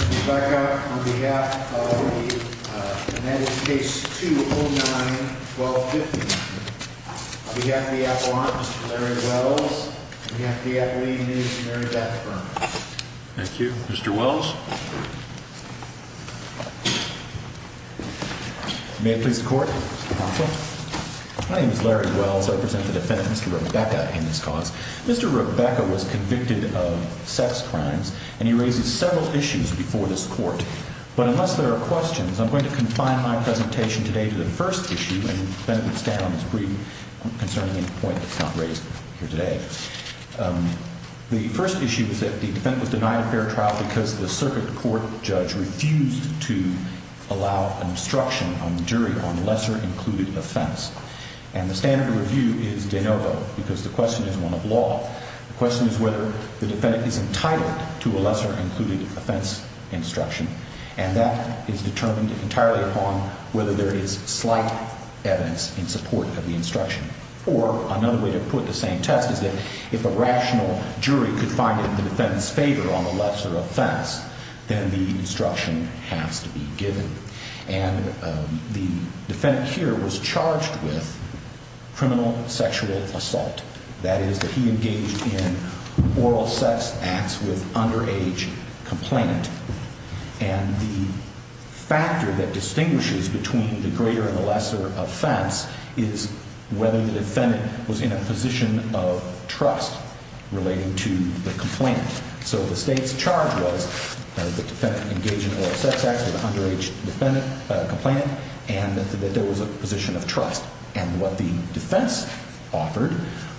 on behalf of the uh and that is case two oh nine twelve fifty. On behalf of the Appalachian Mr. Larry Wells, on behalf of the Appalachian News, Mary Beth Burns. Thank you. Mr. Wells. May it please the court. My name is Larry Wells. I represent the defendant, Mr. Rebecca, in this cause. Mr. Rebecca was convicted of sex crimes and he raises several issues before this court. But unless there are questions, I'm going to confine my presentation today to the first issue, and then we'll stay on this brief concerning the point that's not raised here today. Um, the first issue is that the defendant was denied a fair trial because the circuit court judge refused to allow an instruction on the jury on lesser included offense. And the standard review is de novo because the question is one of law. The question is whether the defendant is entitled to a lesser included offense instruction. And that is determined entirely upon whether there is slight evidence in support of the instruction. Or another way to put the same test is that if a rational jury could find the defendant's favor on the lesser offense, then the instruction has to be given. And the defendant here was charged with criminal sexual assault. That is that he engaged in oral sex acts with underage complainant. And the factor that distinguishes between the greater and the lesser offense is whether the defendant was in a position of trust relating to the complainant. So the state's charge was that the defendant engaged in oral sex acts with an underage defendant, uh, complainant, and that there was a position of trust. And what the defense offered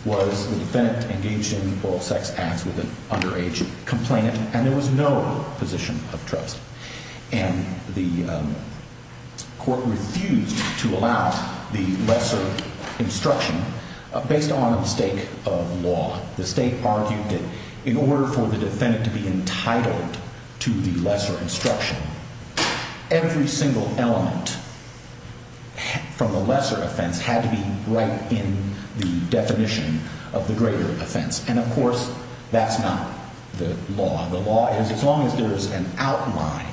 was the defendant engaged in oral sex acts with an underage complainant, and there was no position of trust. And the, um, court refused to allow the lesser instruction based on a mistake of law. The state argued that in order for the defendant to be entitled to the lesser instruction, every single element from the lesser offense had to be right in the definition of the greater offense. And, of course, that's not the law. The law is as long as there is an outline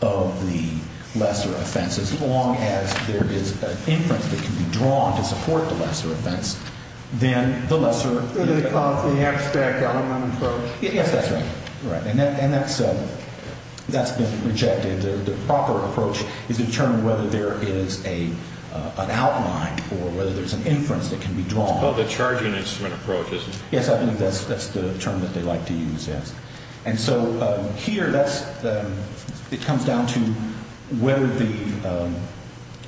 of the lesser offense, as long as there is an inference that can be drawn to support the lesser offense, then the lesser... They call it the abstract element approach. Yes, that's right. Right. And that's been rejected. The proper approach is to determine whether there is an outline or whether there's an inference that can be drawn. It's called the charging instrument approach, isn't it? Yes, I believe that's the term that they like to use, yes. And so here that's, it comes down to whether the, um,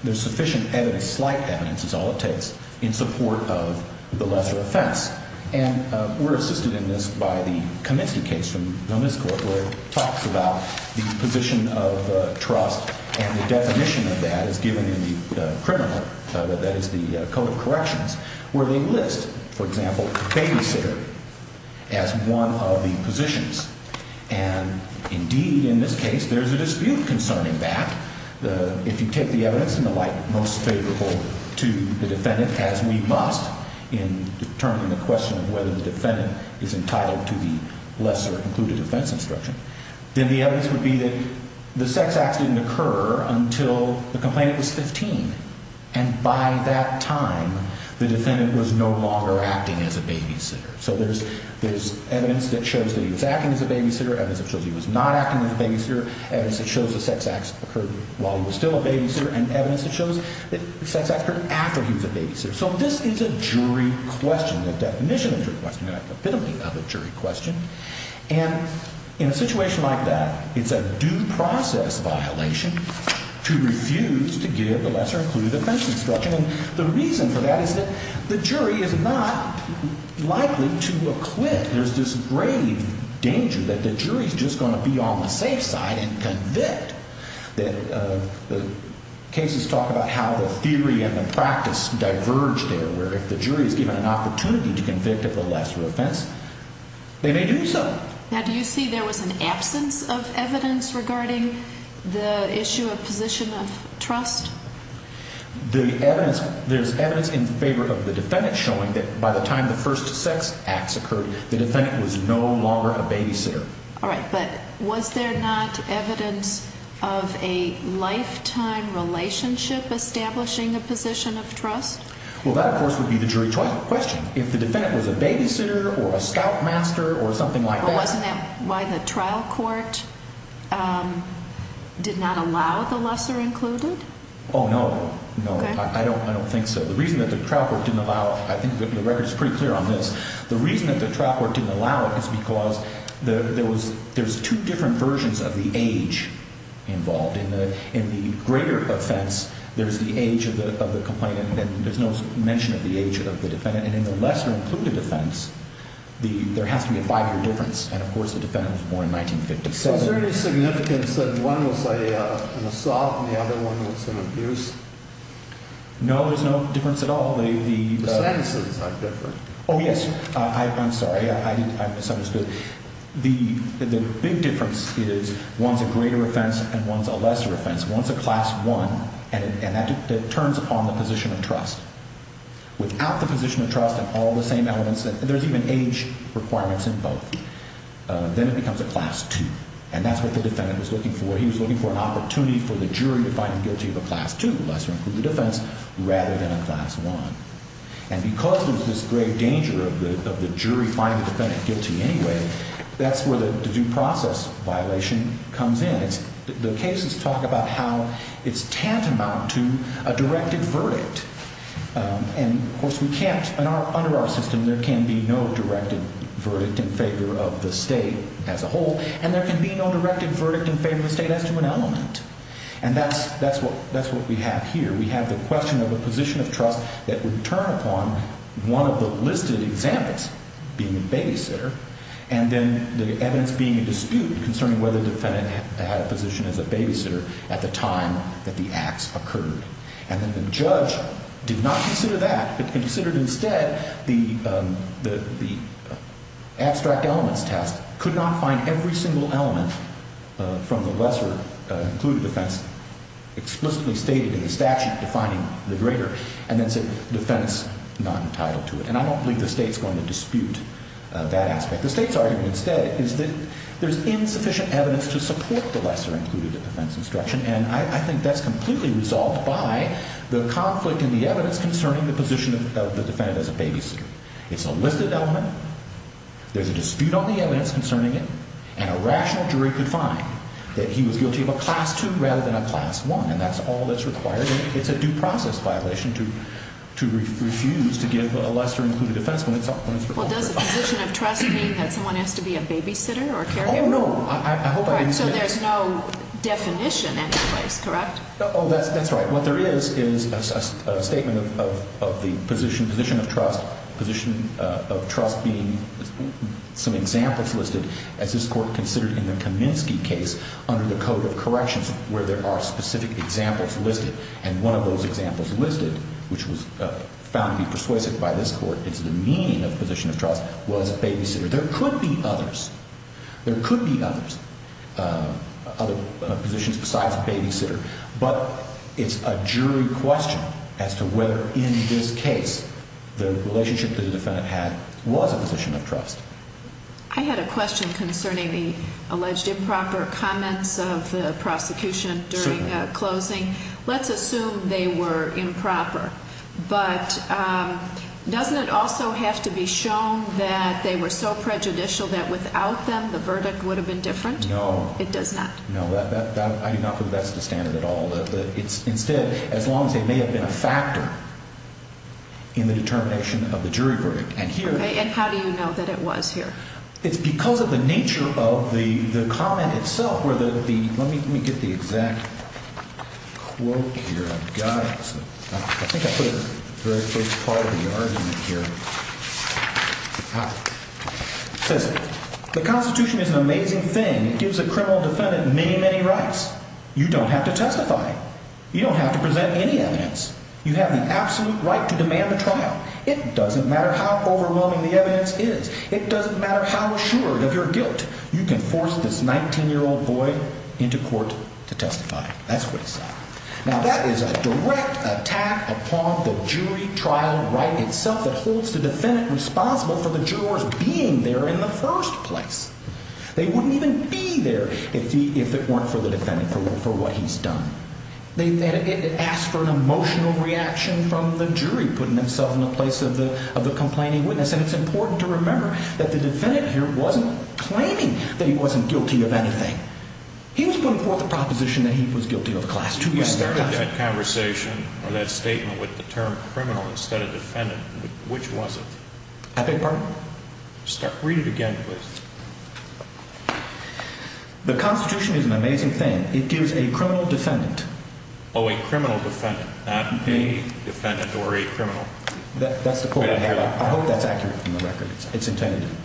there's sufficient evidence, slight evidence is all it takes, in support of the lesser offense. And, um, we're assisted in this by the Commency case from Gomez Court where it talks about the position of trust and the definition of that is given in the criminal, that is the Code of Corrections, where they list, for example, babysitter as one of the positions. And indeed, in this case, there's a dispute concerning that. If you take the evidence and the like, most favorable to the defendant, as we must in determining the question of whether the defendant is entitled to the lesser included offense instruction, then the evidence would be that the sex act didn't occur until the So there's evidence that shows that he was acting as a babysitter, evidence that shows he was not acting as a babysitter, evidence that shows the sex acts occurred while he was still a babysitter, and evidence that shows that sex acts occurred after he was a babysitter. So this is a jury question, the definition of a jury question, the epitome of a jury question. And in a situation like that, it's a due process violation to refuse to give the lesser included offense instruction. And the reason for that is that the jury is not likely to acquit. There's this grave danger that the jury is just going to be on the safe side and convict. The cases talk about how the theory and the practice diverge there, where if the jury is given an opportunity to convict of the lesser offense, they may do so. Now, do you see there was an absence of evidence regarding the issue of position of trust? There's evidence in favor of the defendant showing that by the time the first sex acts occurred, the defendant was no longer a babysitter. All right, but was there not evidence of a lifetime relationship establishing a position of trust? Well, that, of course, would be the jury question. If the defendant was a babysitter or a scoutmaster or something like that. But wasn't that why the trial court did not allow the lesser included? Oh, no. No, I don't think so. The reason that the trial court didn't allow it, I think the record is pretty clear on this, the reason that the trial court didn't allow it is because there's two different versions of the age involved. In the greater offense, there's the age of the complainant and there's no mention of the age of the defendant. And in the lesser included offense, there has to be a five-year difference. And, of course, the defendant was born in 1957. So is there any significance that one was an assault and the other one was an abuse? No, there's no difference at all. The sentences are different. Oh, yes. I'm sorry. I misunderstood. The big difference is one's a greater offense and one's a lesser offense. One's a class one, and that turns upon the position of trust. Without the position of trust and all the same elements, and there's even age requirements in both, then it becomes a class two. And that's what the defendant was looking for. He was looking for an opportunity for the jury to find him guilty of a class two, lesser included offense, rather than a class one. And because there's this great danger of the jury finding the defendant guilty anyway, that's where the due process violation comes in. The cases talk about how it's tantamount to a directed verdict. And, of course, we can't, under our system, there can be no directed verdict in favor of the state as a whole. And there can be no directed verdict in favor of the state as to an element. And that's what we have here. We have the question of a position of trust that would turn upon one of the listed examples, being the babysitter, and then the evidence being a dispute concerning whether the defendant had a position as a babysitter at the time that the acts occurred. And then the judge did not consider that, but considered instead the abstract elements test, could not find every single element from the lesser included offense explicitly stated in the statute defining the greater, and then said, defendant's not entitled to it. And I don't believe the state's going to dispute that aspect. The state's argument instead is that there's insufficient evidence to support the lesser included offense instruction. And I think that's completely resolved by the conflict in the evidence concerning the position of the defendant as a babysitter. It's a listed element. There's a dispute on the evidence concerning it. And a rational jury could find that he was guilty of a class two rather than a class one. And that's all that's required. And it's a due process violation to refuse to give a lesser included offense when it's required. Well, does the position of trust mean that someone has to be a babysitter or carrier? Oh, no. I hope I understand that. So there's no definition in place, correct? Oh, that's right. What there is is a statement of the position of trust, position of trust being some examples listed, as this Court considered in the Kaminsky case under the Code of Corrections, where there are specific examples listed. And one of those examples listed, which was found to be persuasive by this Court, it's the meaning of the position of trust, was babysitter. There could be others. There could be others, other positions besides babysitter. But it's a jury question as to whether in this case the relationship that the defendant had was a position of trust. I had a question concerning the alleged improper comments of the prosecution during closing. Let's assume they were improper. But doesn't it also have to be shown that they were so prejudicial that without them the verdict would have been different? No. It does not? No. I do not think that's the standard at all. Instead, as long as they may have been a factor in the determination of the jury verdict. And here Okay. And how do you know that it was here? It's because of the nature of the comment itself. Let me get the exact quote here. I've got it. I think I put a very big part of the argument here. It says, The Constitution is an amazing thing. It gives a criminal defendant many, many rights. You don't have to testify. You don't have to present any evidence. You have the absolute right to demand the trial. It doesn't matter how overwhelming the evidence is. It doesn't matter how assured of your guilt you can force this 19-year-old boy into court to testify. That's what it says. Now that is a direct attack upon the jury trial right itself that holds the defendant responsible for the jurors being there in the first place. They wouldn't even be there if it weren't for the defendant, for what he's done. It asks for an emotional reaction from the jury putting themselves in the place of the complaining witness. And it's important to remember that the defendant here wasn't claiming that he wasn't guilty of anything. He was putting forth the proposition that he was guilty of a class 2. You started that conversation or that statement with the term criminal instead of defendant. Which was it? I beg your pardon? Read it again, please. The Constitution is an amazing thing. It gives a criminal defendant. Oh, a criminal defendant, not a defendant or a criminal. I hope that's accurate from the record. It's intended to be.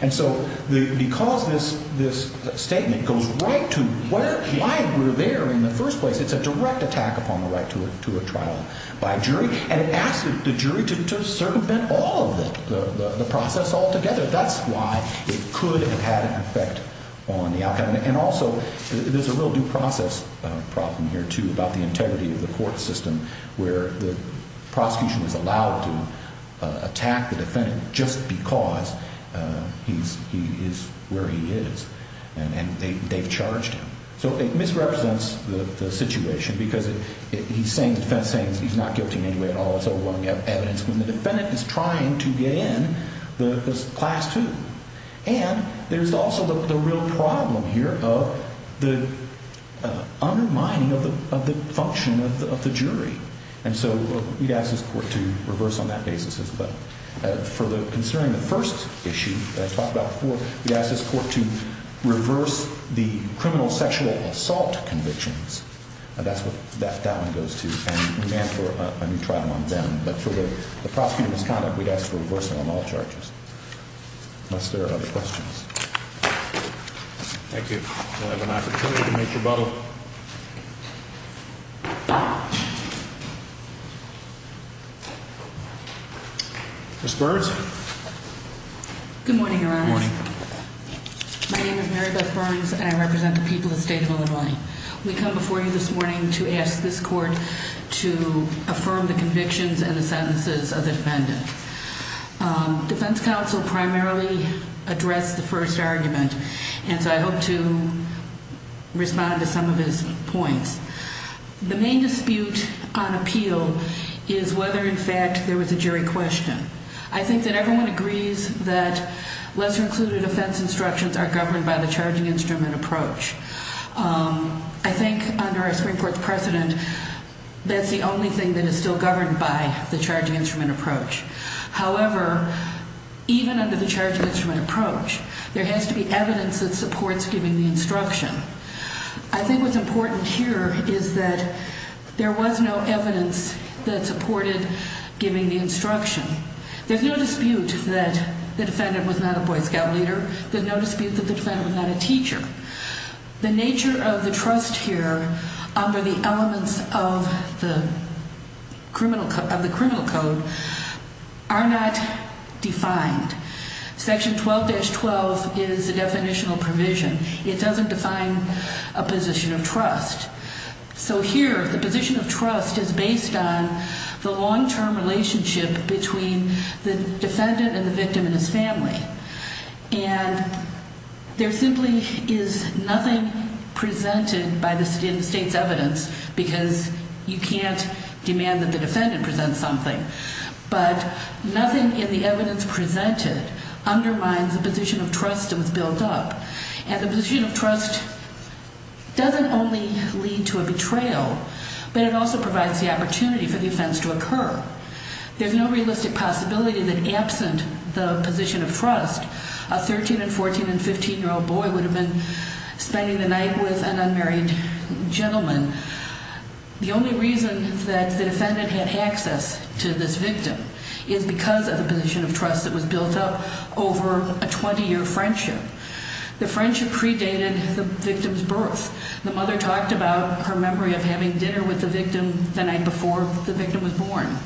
And so because this statement goes right to why we're there in the first place, it's a direct attack upon the right to a trial by a jury. And it asks the jury to circumvent all of the process altogether. That's why it could have had an effect on the outcome. And also, there's a real due process problem here, too, about the integrity of the court system where the prosecution is allowed to attack the defendant just because he is where he is. And they've charged him. So it misrepresents the situation because the defendant is saying he's not guilty in any way at all. It's overwhelming evidence when the defendant is trying to get in the class 2. And there's also the real problem here of the undermining of the function of the jury. And so we'd ask this court to reverse on that basis as well. Considering the first issue that I talked about before, we'd ask this court to reverse the criminal sexual assault convictions. That's what that one goes to. And we may ask for a new trial on them. But for the prosecuting misconduct, we'd ask for a reversal on all charges unless there are other questions. Thank you. We'll have an opportunity to make rebuttal. Ms. Burns? Good morning, Your Honor. Good morning. My name is Mary Beth Burns, and I represent the people of the state of Illinois. We come before you this morning to ask this court to affirm the convictions and the sentences of the defendant. Defense counsel primarily addressed the first argument, and so I hope to respond to some of his points. The main dispute on appeal is whether, in fact, there was a jury question. I think that everyone agrees that lesser-included offense instructions are governed by the charging instrument approach. I think under our Supreme Court's precedent, that's the only thing that is still governed by the charging instrument approach. However, even under the charging instrument approach, there has to be evidence that supports giving the instruction. I think what's important here is that there was no evidence that supported giving the instruction. There's no dispute that the defendant was not a Boy Scout leader. There's no dispute that the defendant was not a teacher. The nature of the trust here under the elements of the criminal code are not defined. Section 12-12 is a definitional provision. It doesn't define a position of trust. So here, the position of trust is based on the long-term relationship between the defendant and the victim and his family. And there simply is nothing presented in the state's evidence because you can't demand that the defendant present something. But nothing in the evidence presented undermines the position of trust that was built up. And the position of trust doesn't only lead to a betrayal, but it also provides the opportunity for the offense to occur. There's no realistic possibility that absent the position of trust, a 13- and 14- and 15-year-old boy would have been spending the night with an unmarried gentleman. The only reason that the defendant had access to this victim is because of the position of trust that was built up over a 20-year friendship. The friendship predated the victim's birth. The mother talked about her memory of having dinner with the victim the night before the victim was born.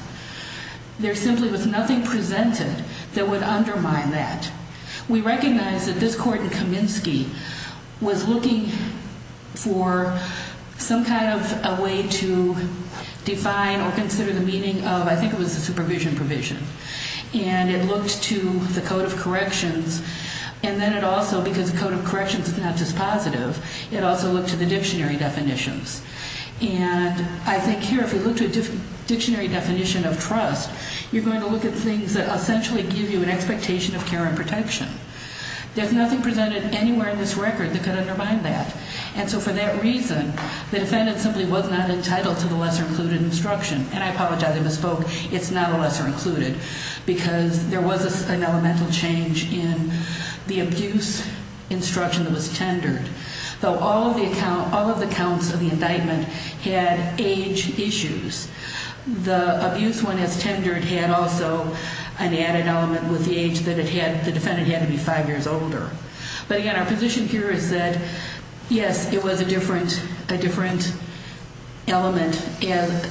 There simply was nothing presented that would undermine that. We recognize that this court in Kaminsky was looking for some kind of a way to define or consider the meaning of, I think it was the supervision provision. And it looked to the code of corrections. And then it also, because the code of corrections is not just positive, it also looked to the dictionary definitions. And I think here, if you look to a dictionary definition of trust, you're going to look at things that essentially give you an expectation of care and protection. There's nothing presented anywhere in this record that could undermine that. And so for that reason, the defendant simply was not entitled to the lesser-included instruction. And I apologize, I misspoke. It's not a lesser-included because there was an elemental change in the abuse instruction that was tendered. Though all of the accounts of the indictment had age issues, the abuse one as tendered had also an added element with the age that it had. The defendant had to be five years older. But, again, our position here is that, yes, it was a different element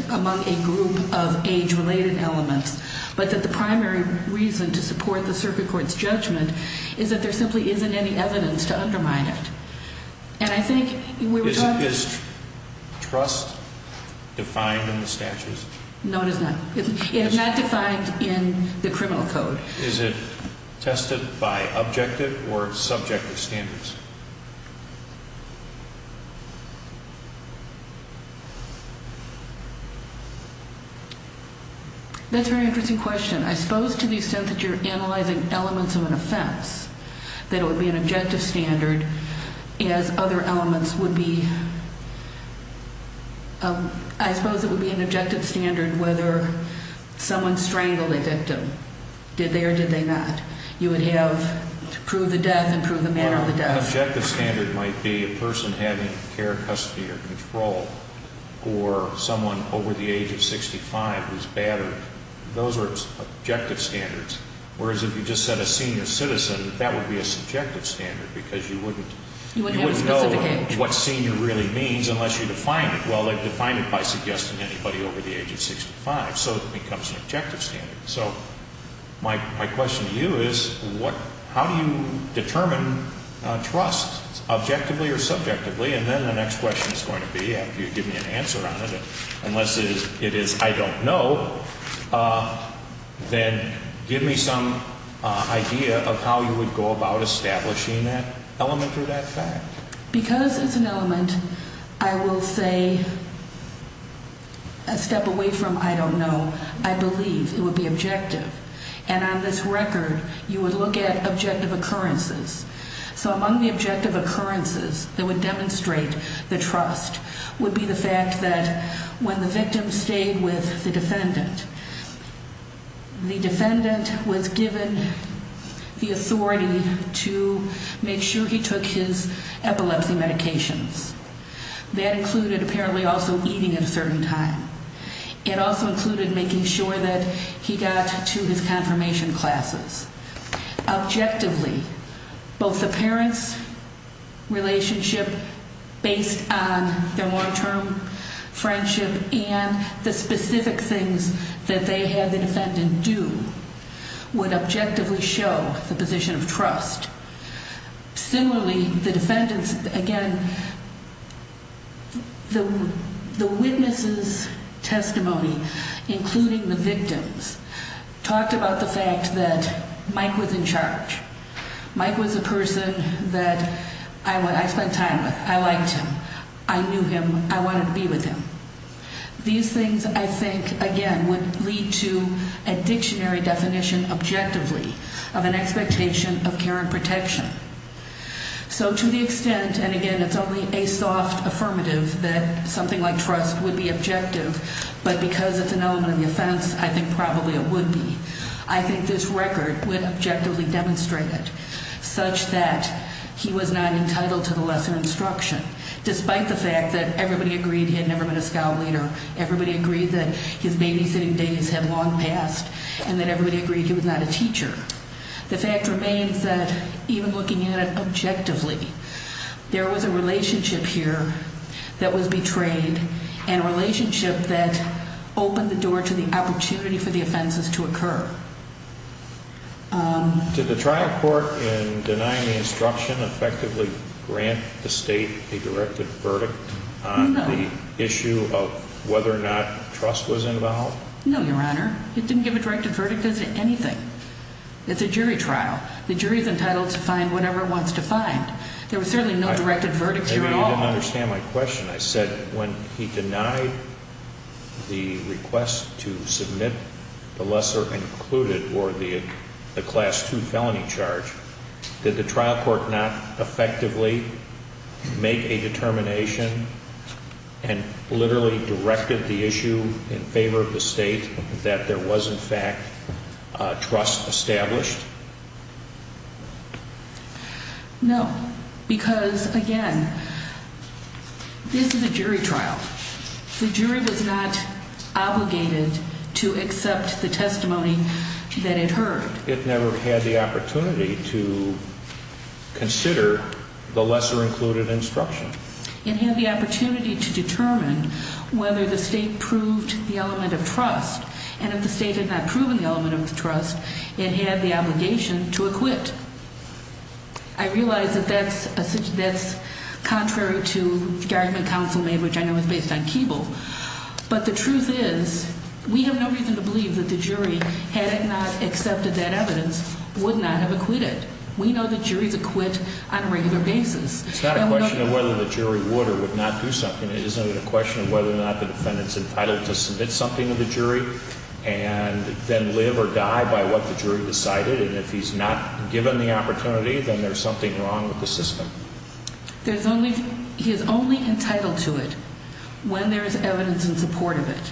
among a group of age-related elements, but that the primary reason to support the circuit court's judgment is that there simply isn't any evidence to undermine it. And I think we were talking... Is trust defined in the statutes? No, it is not. It is not defined in the criminal code. Is it tested by objective or subjective standards? That's a very interesting question. I suppose to the extent that you're analyzing elements of an offense, that it would be an objective standard as other elements would be. I suppose it would be an objective standard whether someone strangled a victim. Did they or did they not? You would have to prove the death and prove the manner of the death. An objective standard might be a person having care, custody, or control, or someone over the age of 65 who's battered. Those are objective standards. Whereas if you just said a senior citizen, that would be a subjective standard because you wouldn't... You wouldn't have a specific age. What senior really means unless you define it. Well, they define it by suggesting anybody over the age of 65, so it becomes an objective standard. So my question to you is how do you determine trust, objectively or subjectively? And then the next question is going to be, after you give me an answer on it, unless it is I don't know, then give me some idea of how you would go about establishing that element or that fact. Because it's an element, I will say a step away from I don't know. I believe it would be objective. And on this record, you would look at objective occurrences. So among the objective occurrences that would demonstrate the trust would be the fact that when the victim stayed with the defendant, the defendant was given the authority to make sure he took his epilepsy medications. That included apparently also eating at a certain time. It also included making sure that he got to his confirmation classes. Objectively, both the parent's relationship based on their long-term friendship and the specific things that they had the defendant do would objectively show the position of trust. Similarly, the defendant's, again, the witness's testimony, including the victim's, talked about the fact that Mike was in charge. Mike was a person that I spent time with. I liked him. I knew him. I wanted to be with him. These things, I think, again, would lead to a dictionary definition objectively of an expectation of care and protection. So to the extent, and again, it's only a soft affirmative that something like trust would be objective, but because it's an element of the offense, I think probably it would be. I think this record would objectively demonstrate it such that he was not entitled to the lesser instruction, despite the fact that everybody agreed he had never been a scout leader, everybody agreed that his babysitting days had long passed, and that everybody agreed he was not a teacher. The fact remains that even looking at it objectively, there was a relationship here that was betrayed and a relationship that opened the door to the opportunity for the offenses to occur. Did the trial court, in denying the instruction, effectively grant the state a directed verdict on the issue of whether or not trust was involved? No, Your Honor. It didn't give a directed verdict as to anything. It's a jury trial. The jury is entitled to find whatever it wants to find. There was certainly no directed verdict here at all. Maybe you didn't understand my question. I said when he denied the request to submit the lesser included or the class 2 felony charge, did the trial court not effectively make a determination and literally directed the issue in favor of the state that there was, in fact, trust established? No, because, again, this is a jury trial. The jury was not obligated to accept the testimony that it heard. It never had the opportunity to consider the lesser included instruction. It had the opportunity to determine whether the state proved the element of trust, and if the state had not proven the element of trust, it had the obligation to acquit. I realize that that's contrary to the argument counsel made, which I know is based on Keeble, but the truth is we have no reason to believe that the jury, had it not accepted that evidence, would not have acquitted. We know that juries acquit on a regular basis. It's not a question of whether the jury would or would not do something. It isn't a question of whether or not the defendant's entitled to submit something to the jury and then live or die by what the jury decided. And if he's not given the opportunity, then there's something wrong with the system. He is only entitled to it when there is evidence in support of it.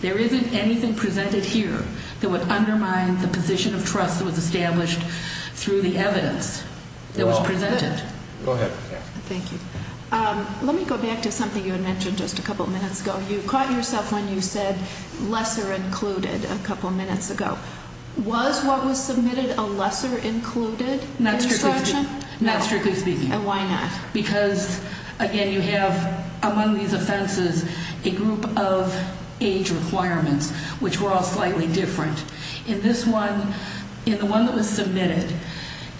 There isn't anything presented here that would undermine the position of trust that was established through the evidence that was presented. Go ahead. Thank you. Let me go back to something you had mentioned just a couple minutes ago. You caught yourself when you said lesser included a couple minutes ago. Was what was submitted a lesser included instruction? Not strictly speaking. Not strictly speaking. And why not? Because, again, you have among these offenses a group of age requirements, which were all slightly different. In this one, in the one that was submitted,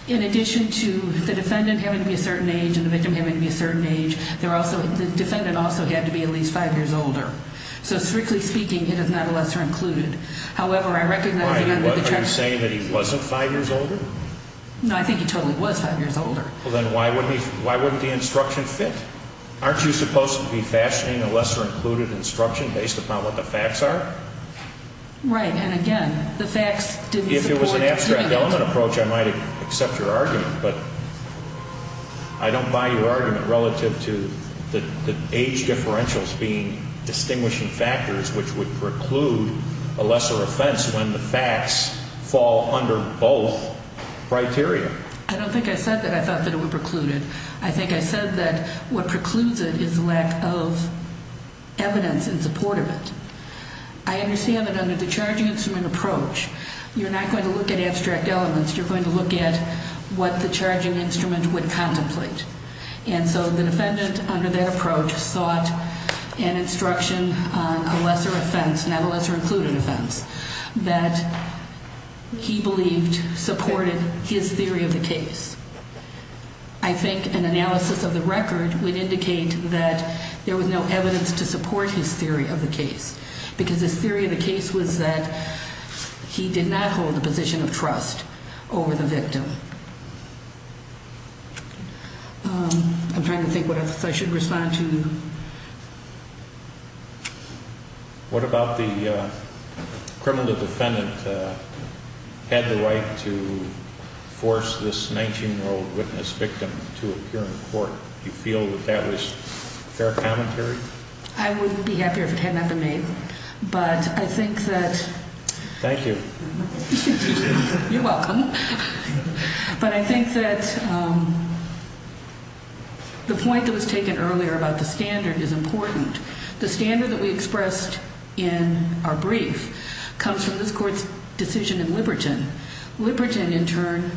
in addition to the defendant having to be a certain age and the victim having to be a certain age, the defendant also had to be at least five years older. So strictly speaking, it is not a lesser included. However, I recognize that under the checks… Are you saying that he wasn't five years older? No, I think he totally was five years older. Well, then why wouldn't the instruction fit? Aren't you supposed to be fashioning a lesser included instruction based upon what the facts are? Right. And, again, the facts didn't support… If it was an abstract element approach, I might accept your argument. But I don't buy your argument relative to the age differentials being distinguishing factors, which would preclude a lesser offense when the facts fall under both criteria. I don't think I said that I thought that it would preclude it. I think I said that what precludes it is the lack of evidence in support of it. I understand that under the charging instrument approach, you're not going to look at abstract elements. You're going to look at what the charging instrument would contemplate. And so the defendant under that approach sought an instruction on a lesser offense, not a lesser included offense, that he believed supported his theory of the case. I think an analysis of the record would indicate that there was no evidence to support his theory of the case. Because his theory of the case was that he did not hold a position of trust over the victim. I'm trying to think what else I should respond to. What about the criminal defendant had the right to force this 19-year-old witness victim to appear in court? Do you feel that that was fair commentary? I would be happier if it had not been made. But I think that... Thank you. You're welcome. But I think that the point that was taken earlier about the standard is important. The standard that we expressed in our brief comes from this court's decision in Liberton. Liberton, in turn,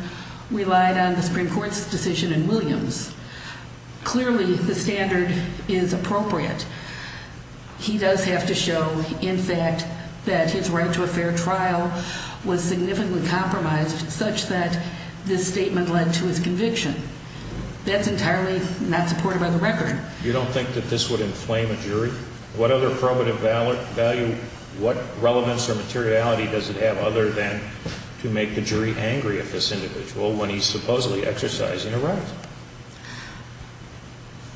relied on the Supreme Court's decision in Williams. Clearly the standard is appropriate. He does have to show, in fact, that his right to a fair trial was significantly compromised such that this statement led to his conviction. That's entirely not supported by the record. You don't think that this would inflame a jury? What other probative value, what relevance or materiality does it have other than to make the jury angry at this individual when he's supposedly exercising a right?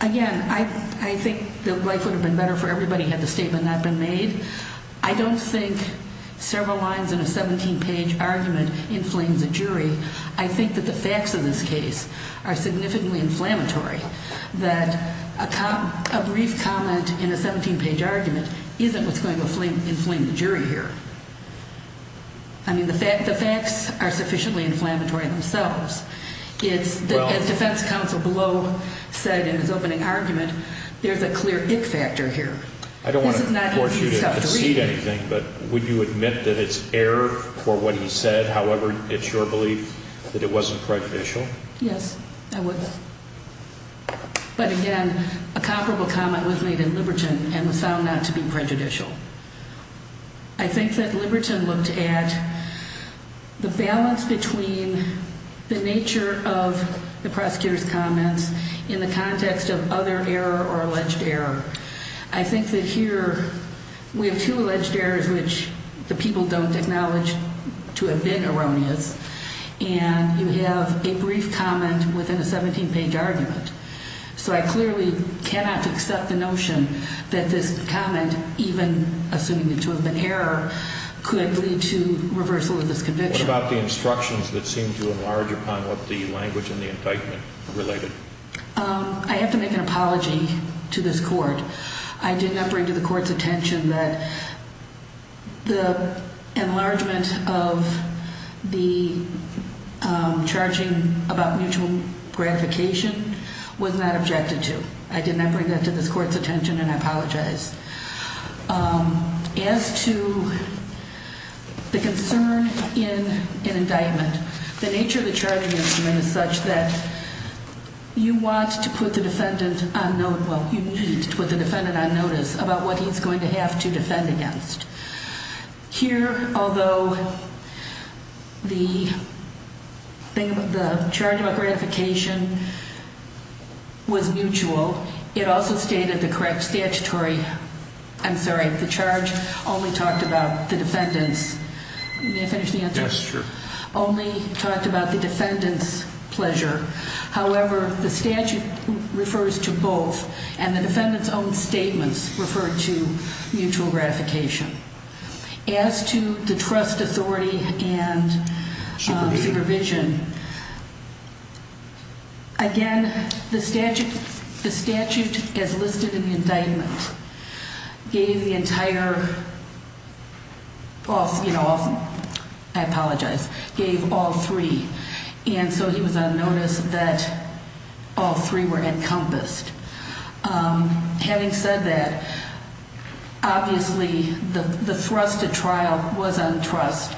Again, I think that life would have been better for everybody had the statement not been made. I don't think several lines in a 17-page argument inflames a jury. I think that the facts of this case are significantly inflammatory. That a brief comment in a 17-page argument isn't what's going to inflame the jury here. I mean, the facts are sufficiently inflammatory themselves. As defense counsel Blow said in his opening argument, there's a clear ick factor here. I don't want to force you to concede anything, but would you admit that it's error for what he said? However, it's your belief that it wasn't prejudicial? Yes, I would. But again, a comparable comment was made in Liberton and was found not to be prejudicial. I think that Liberton looked at the balance between the nature of the prosecutor's comments in the context of other error or alleged error. I think that here we have two alleged errors which the people don't acknowledge to have been erroneous. And you have a brief comment within a 17-page argument. So I clearly cannot accept the notion that this comment, even assuming it to have been error, could lead to reversal of this conviction. What about the instructions that seem to enlarge upon what the language in the indictment related? I have to make an apology to this court. I did not bring to the court's attention that the enlargement of the charging about mutual gratification was not objected to. I did not bring that to this court's attention and I apologize. As to the concern in an indictment, the nature of the charging instrument is such that you want to put the defendant on notice about what he's going to have to defend against. Here, although the charging about gratification was mutual, it also stated the correct statutory – I'm sorry, the charge only talked about the defendant's – may I finish the answer? Yes, sure. Only talked about the defendant's pleasure. However, the statute refers to both and the defendant's own statements refer to mutual gratification. As to the trust authority and supervision, again, the statute as listed in the indictment gave the entire – I apologize – gave all three. And so he was on notice that all three were encompassed. Having said that, obviously the thrusted trial was on trust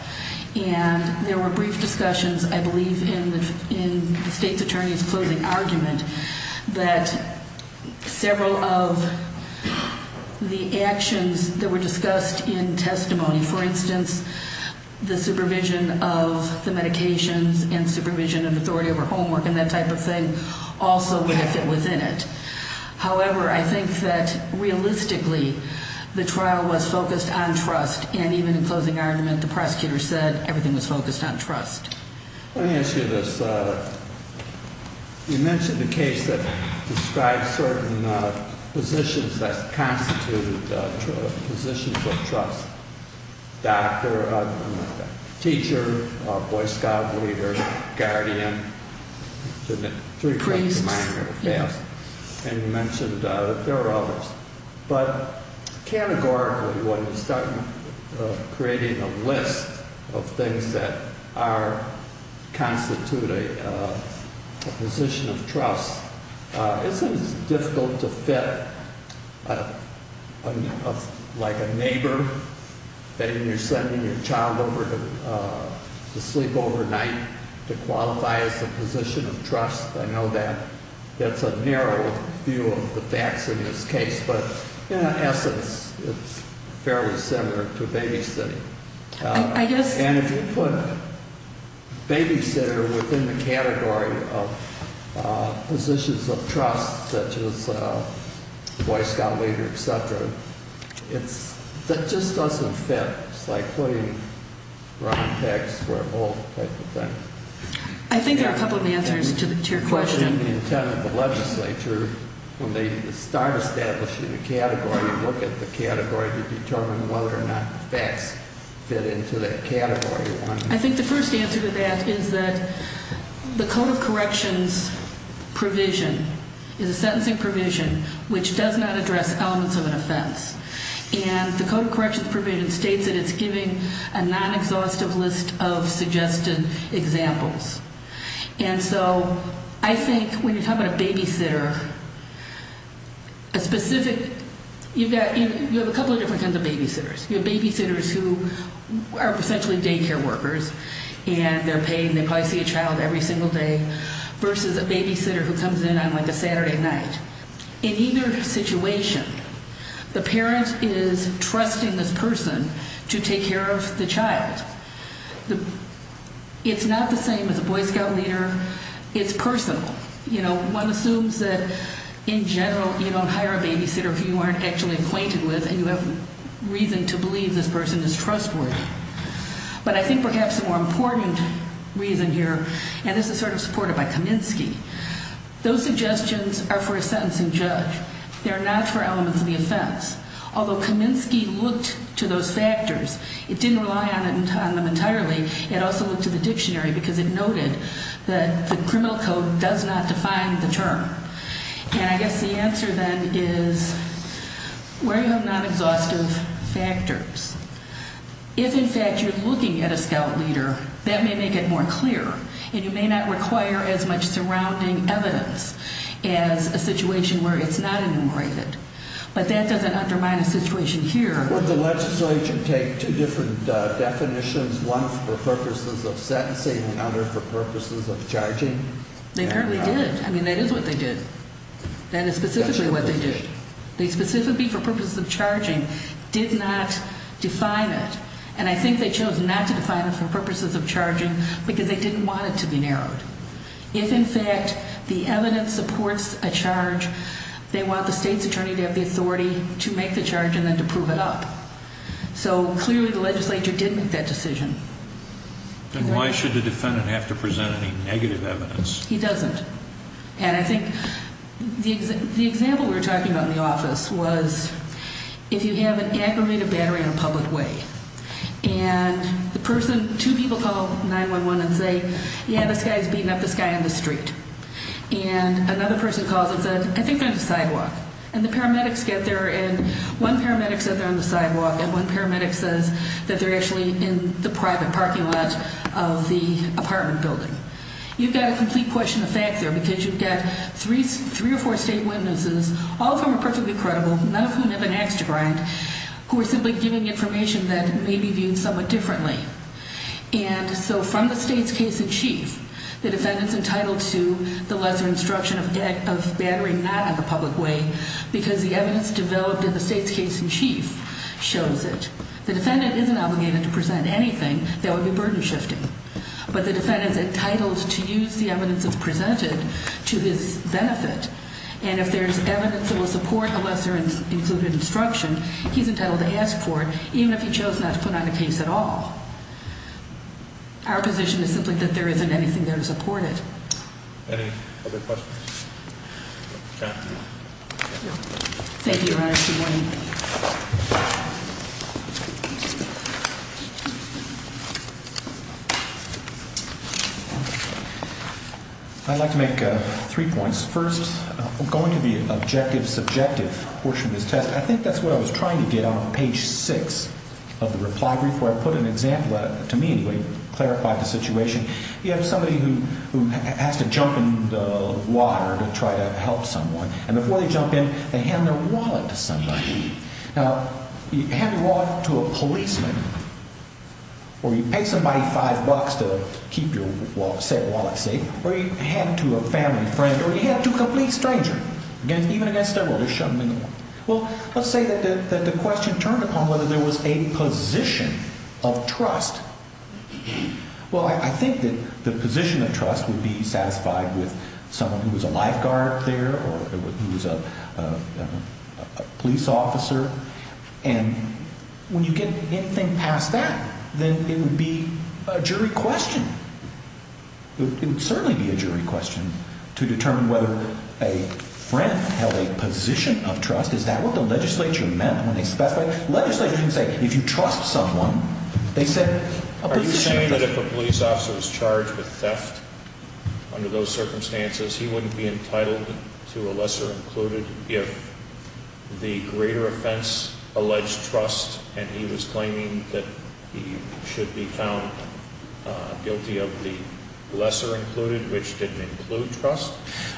and there were brief discussions, I believe, in the state's attorney's closing argument that several of the actions that were discussed in testimony, for instance, the supervision of the medications and supervision of authority over homework and that type of thing, also would have been within it. However, I think that realistically the trial was focused on trust and even in closing argument the prosecutor said everything was focused on trust. Let me ask you this. You mentioned the case that described certain positions that constituted positions of trust. Doctor, teacher, Boy Scouts leader, guardian. Priest. And you mentioned there are others. But categorically when you start creating a list of things that constitute a position of trust, isn't it difficult to fit like a neighbor, when you're sending your child over to sleep overnight, to qualify as a position of trust? I know that's a narrow view of the facts in this case, but in essence it's fairly similar to babysitting. And if you put babysitter within the category of positions of trust, such as Boy Scout leader, et cetera, that just doesn't fit. It's like putting Ron Peck square vault type of thing. I think there are a couple of answers to your question. In the intent of the legislature, when they start establishing a category and look at the category to determine whether or not facts fit into that category. I think the first answer to that is that the Code of Corrections provision is a sentencing provision which does not address elements of an offense. And the Code of Corrections provision states that it's giving a non-exhaustive list of suggested examples. And so I think when you're talking about a babysitter, you have a couple of different kinds of babysitters. You have babysitters who are essentially daycare workers and they're paying, they probably see a child every single day, versus a babysitter who comes in on like a Saturday night. In either situation, the parent is trusting this person to take care of the child. It's not the same as a Boy Scout leader. It's personal. One assumes that in general you don't hire a babysitter who you aren't actually acquainted with and you have reason to believe this person is trustworthy. But I think perhaps a more important reason here, and this is sort of supported by Kaminsky, those suggestions are for a sentencing judge. They're not for elements of the offense. Although Kaminsky looked to those factors, it didn't rely on them entirely. It also looked at the dictionary because it noted that the criminal code does not define the term. And I guess the answer then is where you have non-exhaustive factors. If, in fact, you're looking at a Scout leader, that may make it more clear and you may not require as much surrounding evidence as a situation where it's not enumerated. But that doesn't undermine the situation here. Would the legislature take two different definitions, one for purposes of sentencing and another for purposes of charging? They apparently did. I mean, that is what they did. That is specifically what they did. They specifically, for purposes of charging, did not define it. And I think they chose not to define it for purposes of charging because they didn't want it to be narrowed. If, in fact, the evidence supports a charge, they want the state's attorney to have the authority to make the charge and then to prove it up. So, clearly, the legislature did make that decision. And why should the defendant have to present any negative evidence? He doesn't. And I think the example we were talking about in the office was if you have an aggravated battery in a public way, and the person, two people call 911 and say, yeah, this guy is beating up this guy in the street. And another person calls and says, I think they're on the sidewalk. And the paramedics get there and one paramedic said they're on the sidewalk and one paramedic says that they're actually in the private parking lot of the apartment building. You've got a complete question of fact there because you've got three or four state witnesses, all of whom are perfectly credible, none of whom have an ax to grind, who are simply giving information that may be viewed somewhat differently. And so from the state's case in chief, the defendant is entitled to the lesser instruction of battering not in the public way because the evidence developed in the state's case in chief shows it. The defendant isn't obligated to present anything that would be burden shifting. But the defendant is entitled to use the evidence that's presented to his benefit. And if there's evidence that will support the lesser included instruction, he's entitled to ask for it, even if he chose not to put on a case at all. Our position is simply that there isn't anything there to support it. Any other questions? Thank you, Your Honor. Good morning. I'd like to make three points. First, going to the objective subjective portion of this test, I think that's what I was trying to get on page six of the reply brief where I put an example, to me anyway, to clarify the situation. You have somebody who has to jump in the water to try to help someone. And before they jump in, they hand their wallet to somebody. Now, you hand your wallet to a policeman, or you pay somebody five bucks to keep your, say, wallet safe, or you hand it to a family friend, or you hand it to a complete stranger. Even against their will, they shove it in the water. Well, let's say that the question turned upon whether there was a position of trust. Well, I think that the position of trust would be satisfied with someone who was a lifeguard there or who was a police officer. And when you get anything past that, then it would be a jury question. It would certainly be a jury question to determine whether a friend held a position of trust. Is that what the legislature meant when they specified it? The legislature didn't say, if you trust someone. Are you saying that if a police officer was charged with theft under those circumstances, he wouldn't be entitled to a lesser included if the greater offense alleged trust and he was claiming that he should be found guilty of the lesser included, which didn't include trust,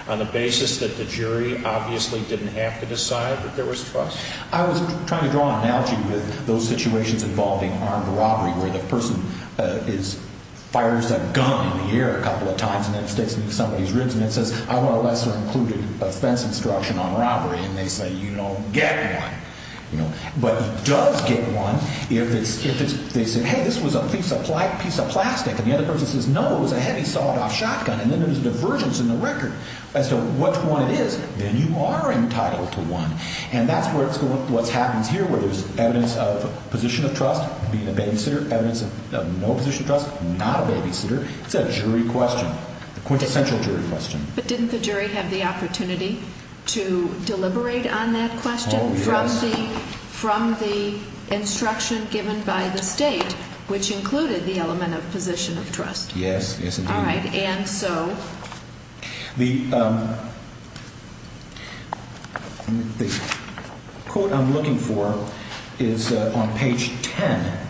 on the basis that the jury obviously didn't have to decide that there was trust? I was trying to draw an analogy with those situations involving armed robbery where the person fires a gun in the air a couple of times and then sticks it in somebody's ribs and then says, I want a lesser included offense instruction on robbery. And they say, get one. But he does get one if they say, hey, this was a piece of plastic. And the other person says, no, it was a heavy sawed off shotgun. And then there's a divergence in the record as to which one it is. Then you are entitled to one. And that's what happens here where there's evidence of position of trust, being a babysitter, evidence of no position of trust, not a babysitter. It's a jury question, a quintessential jury question. But didn't the jury have the opportunity to deliberate on that question from the instruction given by the state, which included the element of position of trust? Yes. All right. And so? The quote I'm looking for is on page 10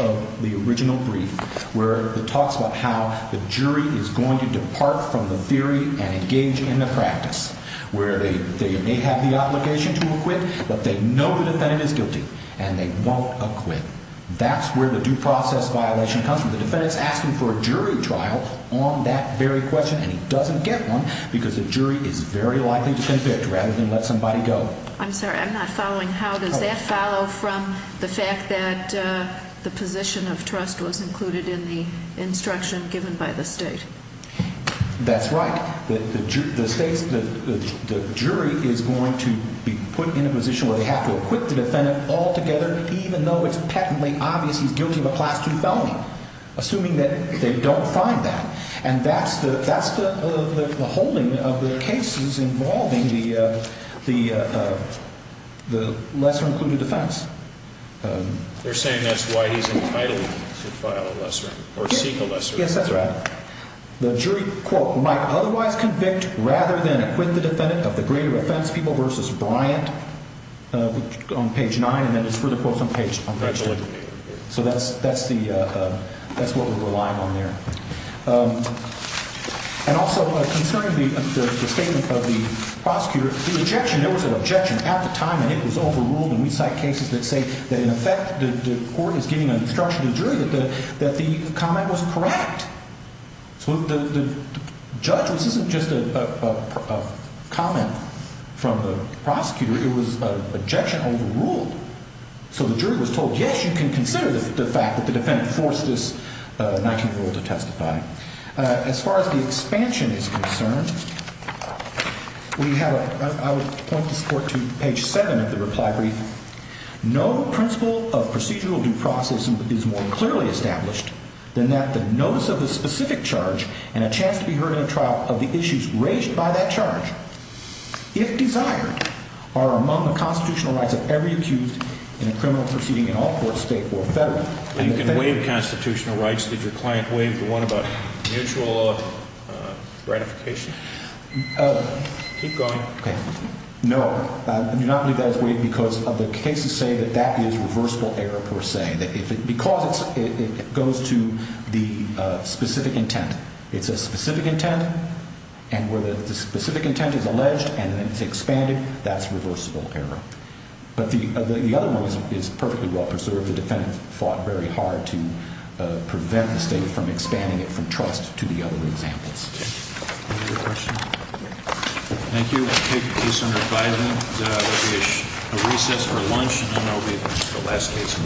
of the original brief where it talks about how the jury is going to depart from the theory and engage in the practice where they may have the obligation to acquit, but they know the defendant is guilty and they won't acquit. That's where the due process violation comes from. The defendant is asking for a jury trial on that very question, and he doesn't get one because the jury is very likely to defend it rather than let somebody go. I'm sorry. I'm not following. How does that follow from the fact that the position of trust was included in the instruction given by the state? That's right. The jury is going to be put in a position where they have to acquit the defendant altogether, even though it's patently obvious he's guilty of a Class II felony, assuming that they don't find that. And that's the holding of the cases involving the lesser-included defense. They're saying that's why he's entitled to file a lesser or seek a lesser. Yes, that's right. The jury, quote, might otherwise convict rather than acquit the defendant of the greater offense, people versus Bryant, on page nine, and then there's further quotes on page two. So that's what we're relying on there. And also concerning the statement of the prosecutor, the objection, there was an objection at the time, and it was overruled. And we cite cases that say that, in effect, the court is giving an instruction to the jury that the comment was correct. So the judge, this isn't just a comment from the prosecutor. It was an objection overruled. So the jury was told, yes, you can consider the fact that the defendant forced this 19-year-old to testify. As far as the expansion is concerned, I would point this court to page seven of the reply brief. No principle of procedural due process is more clearly established than that the notice of the specific charge and a chance to be heard in a trial of the issues raised by that charge, if desired, are among the constitutional rights of every accused in a criminal proceeding in all court, state or federal. You can waive constitutional rights. Did your client waive the one about mutual ratification? Keep going. No. I do not believe that is waived because of the cases say that that is reversible error per se. Because it goes to the specific intent. It's a specific intent, and where the specific intent is alleged and then it's expanded, that's reversible error. But the other one is perfectly well preserved. The defendant fought very hard to prevent the state from expanding it from trust to the other examples. Any other questions? Thank you. Thank you, Senator Biden. There will be a recess for lunch, and then there will be the last case.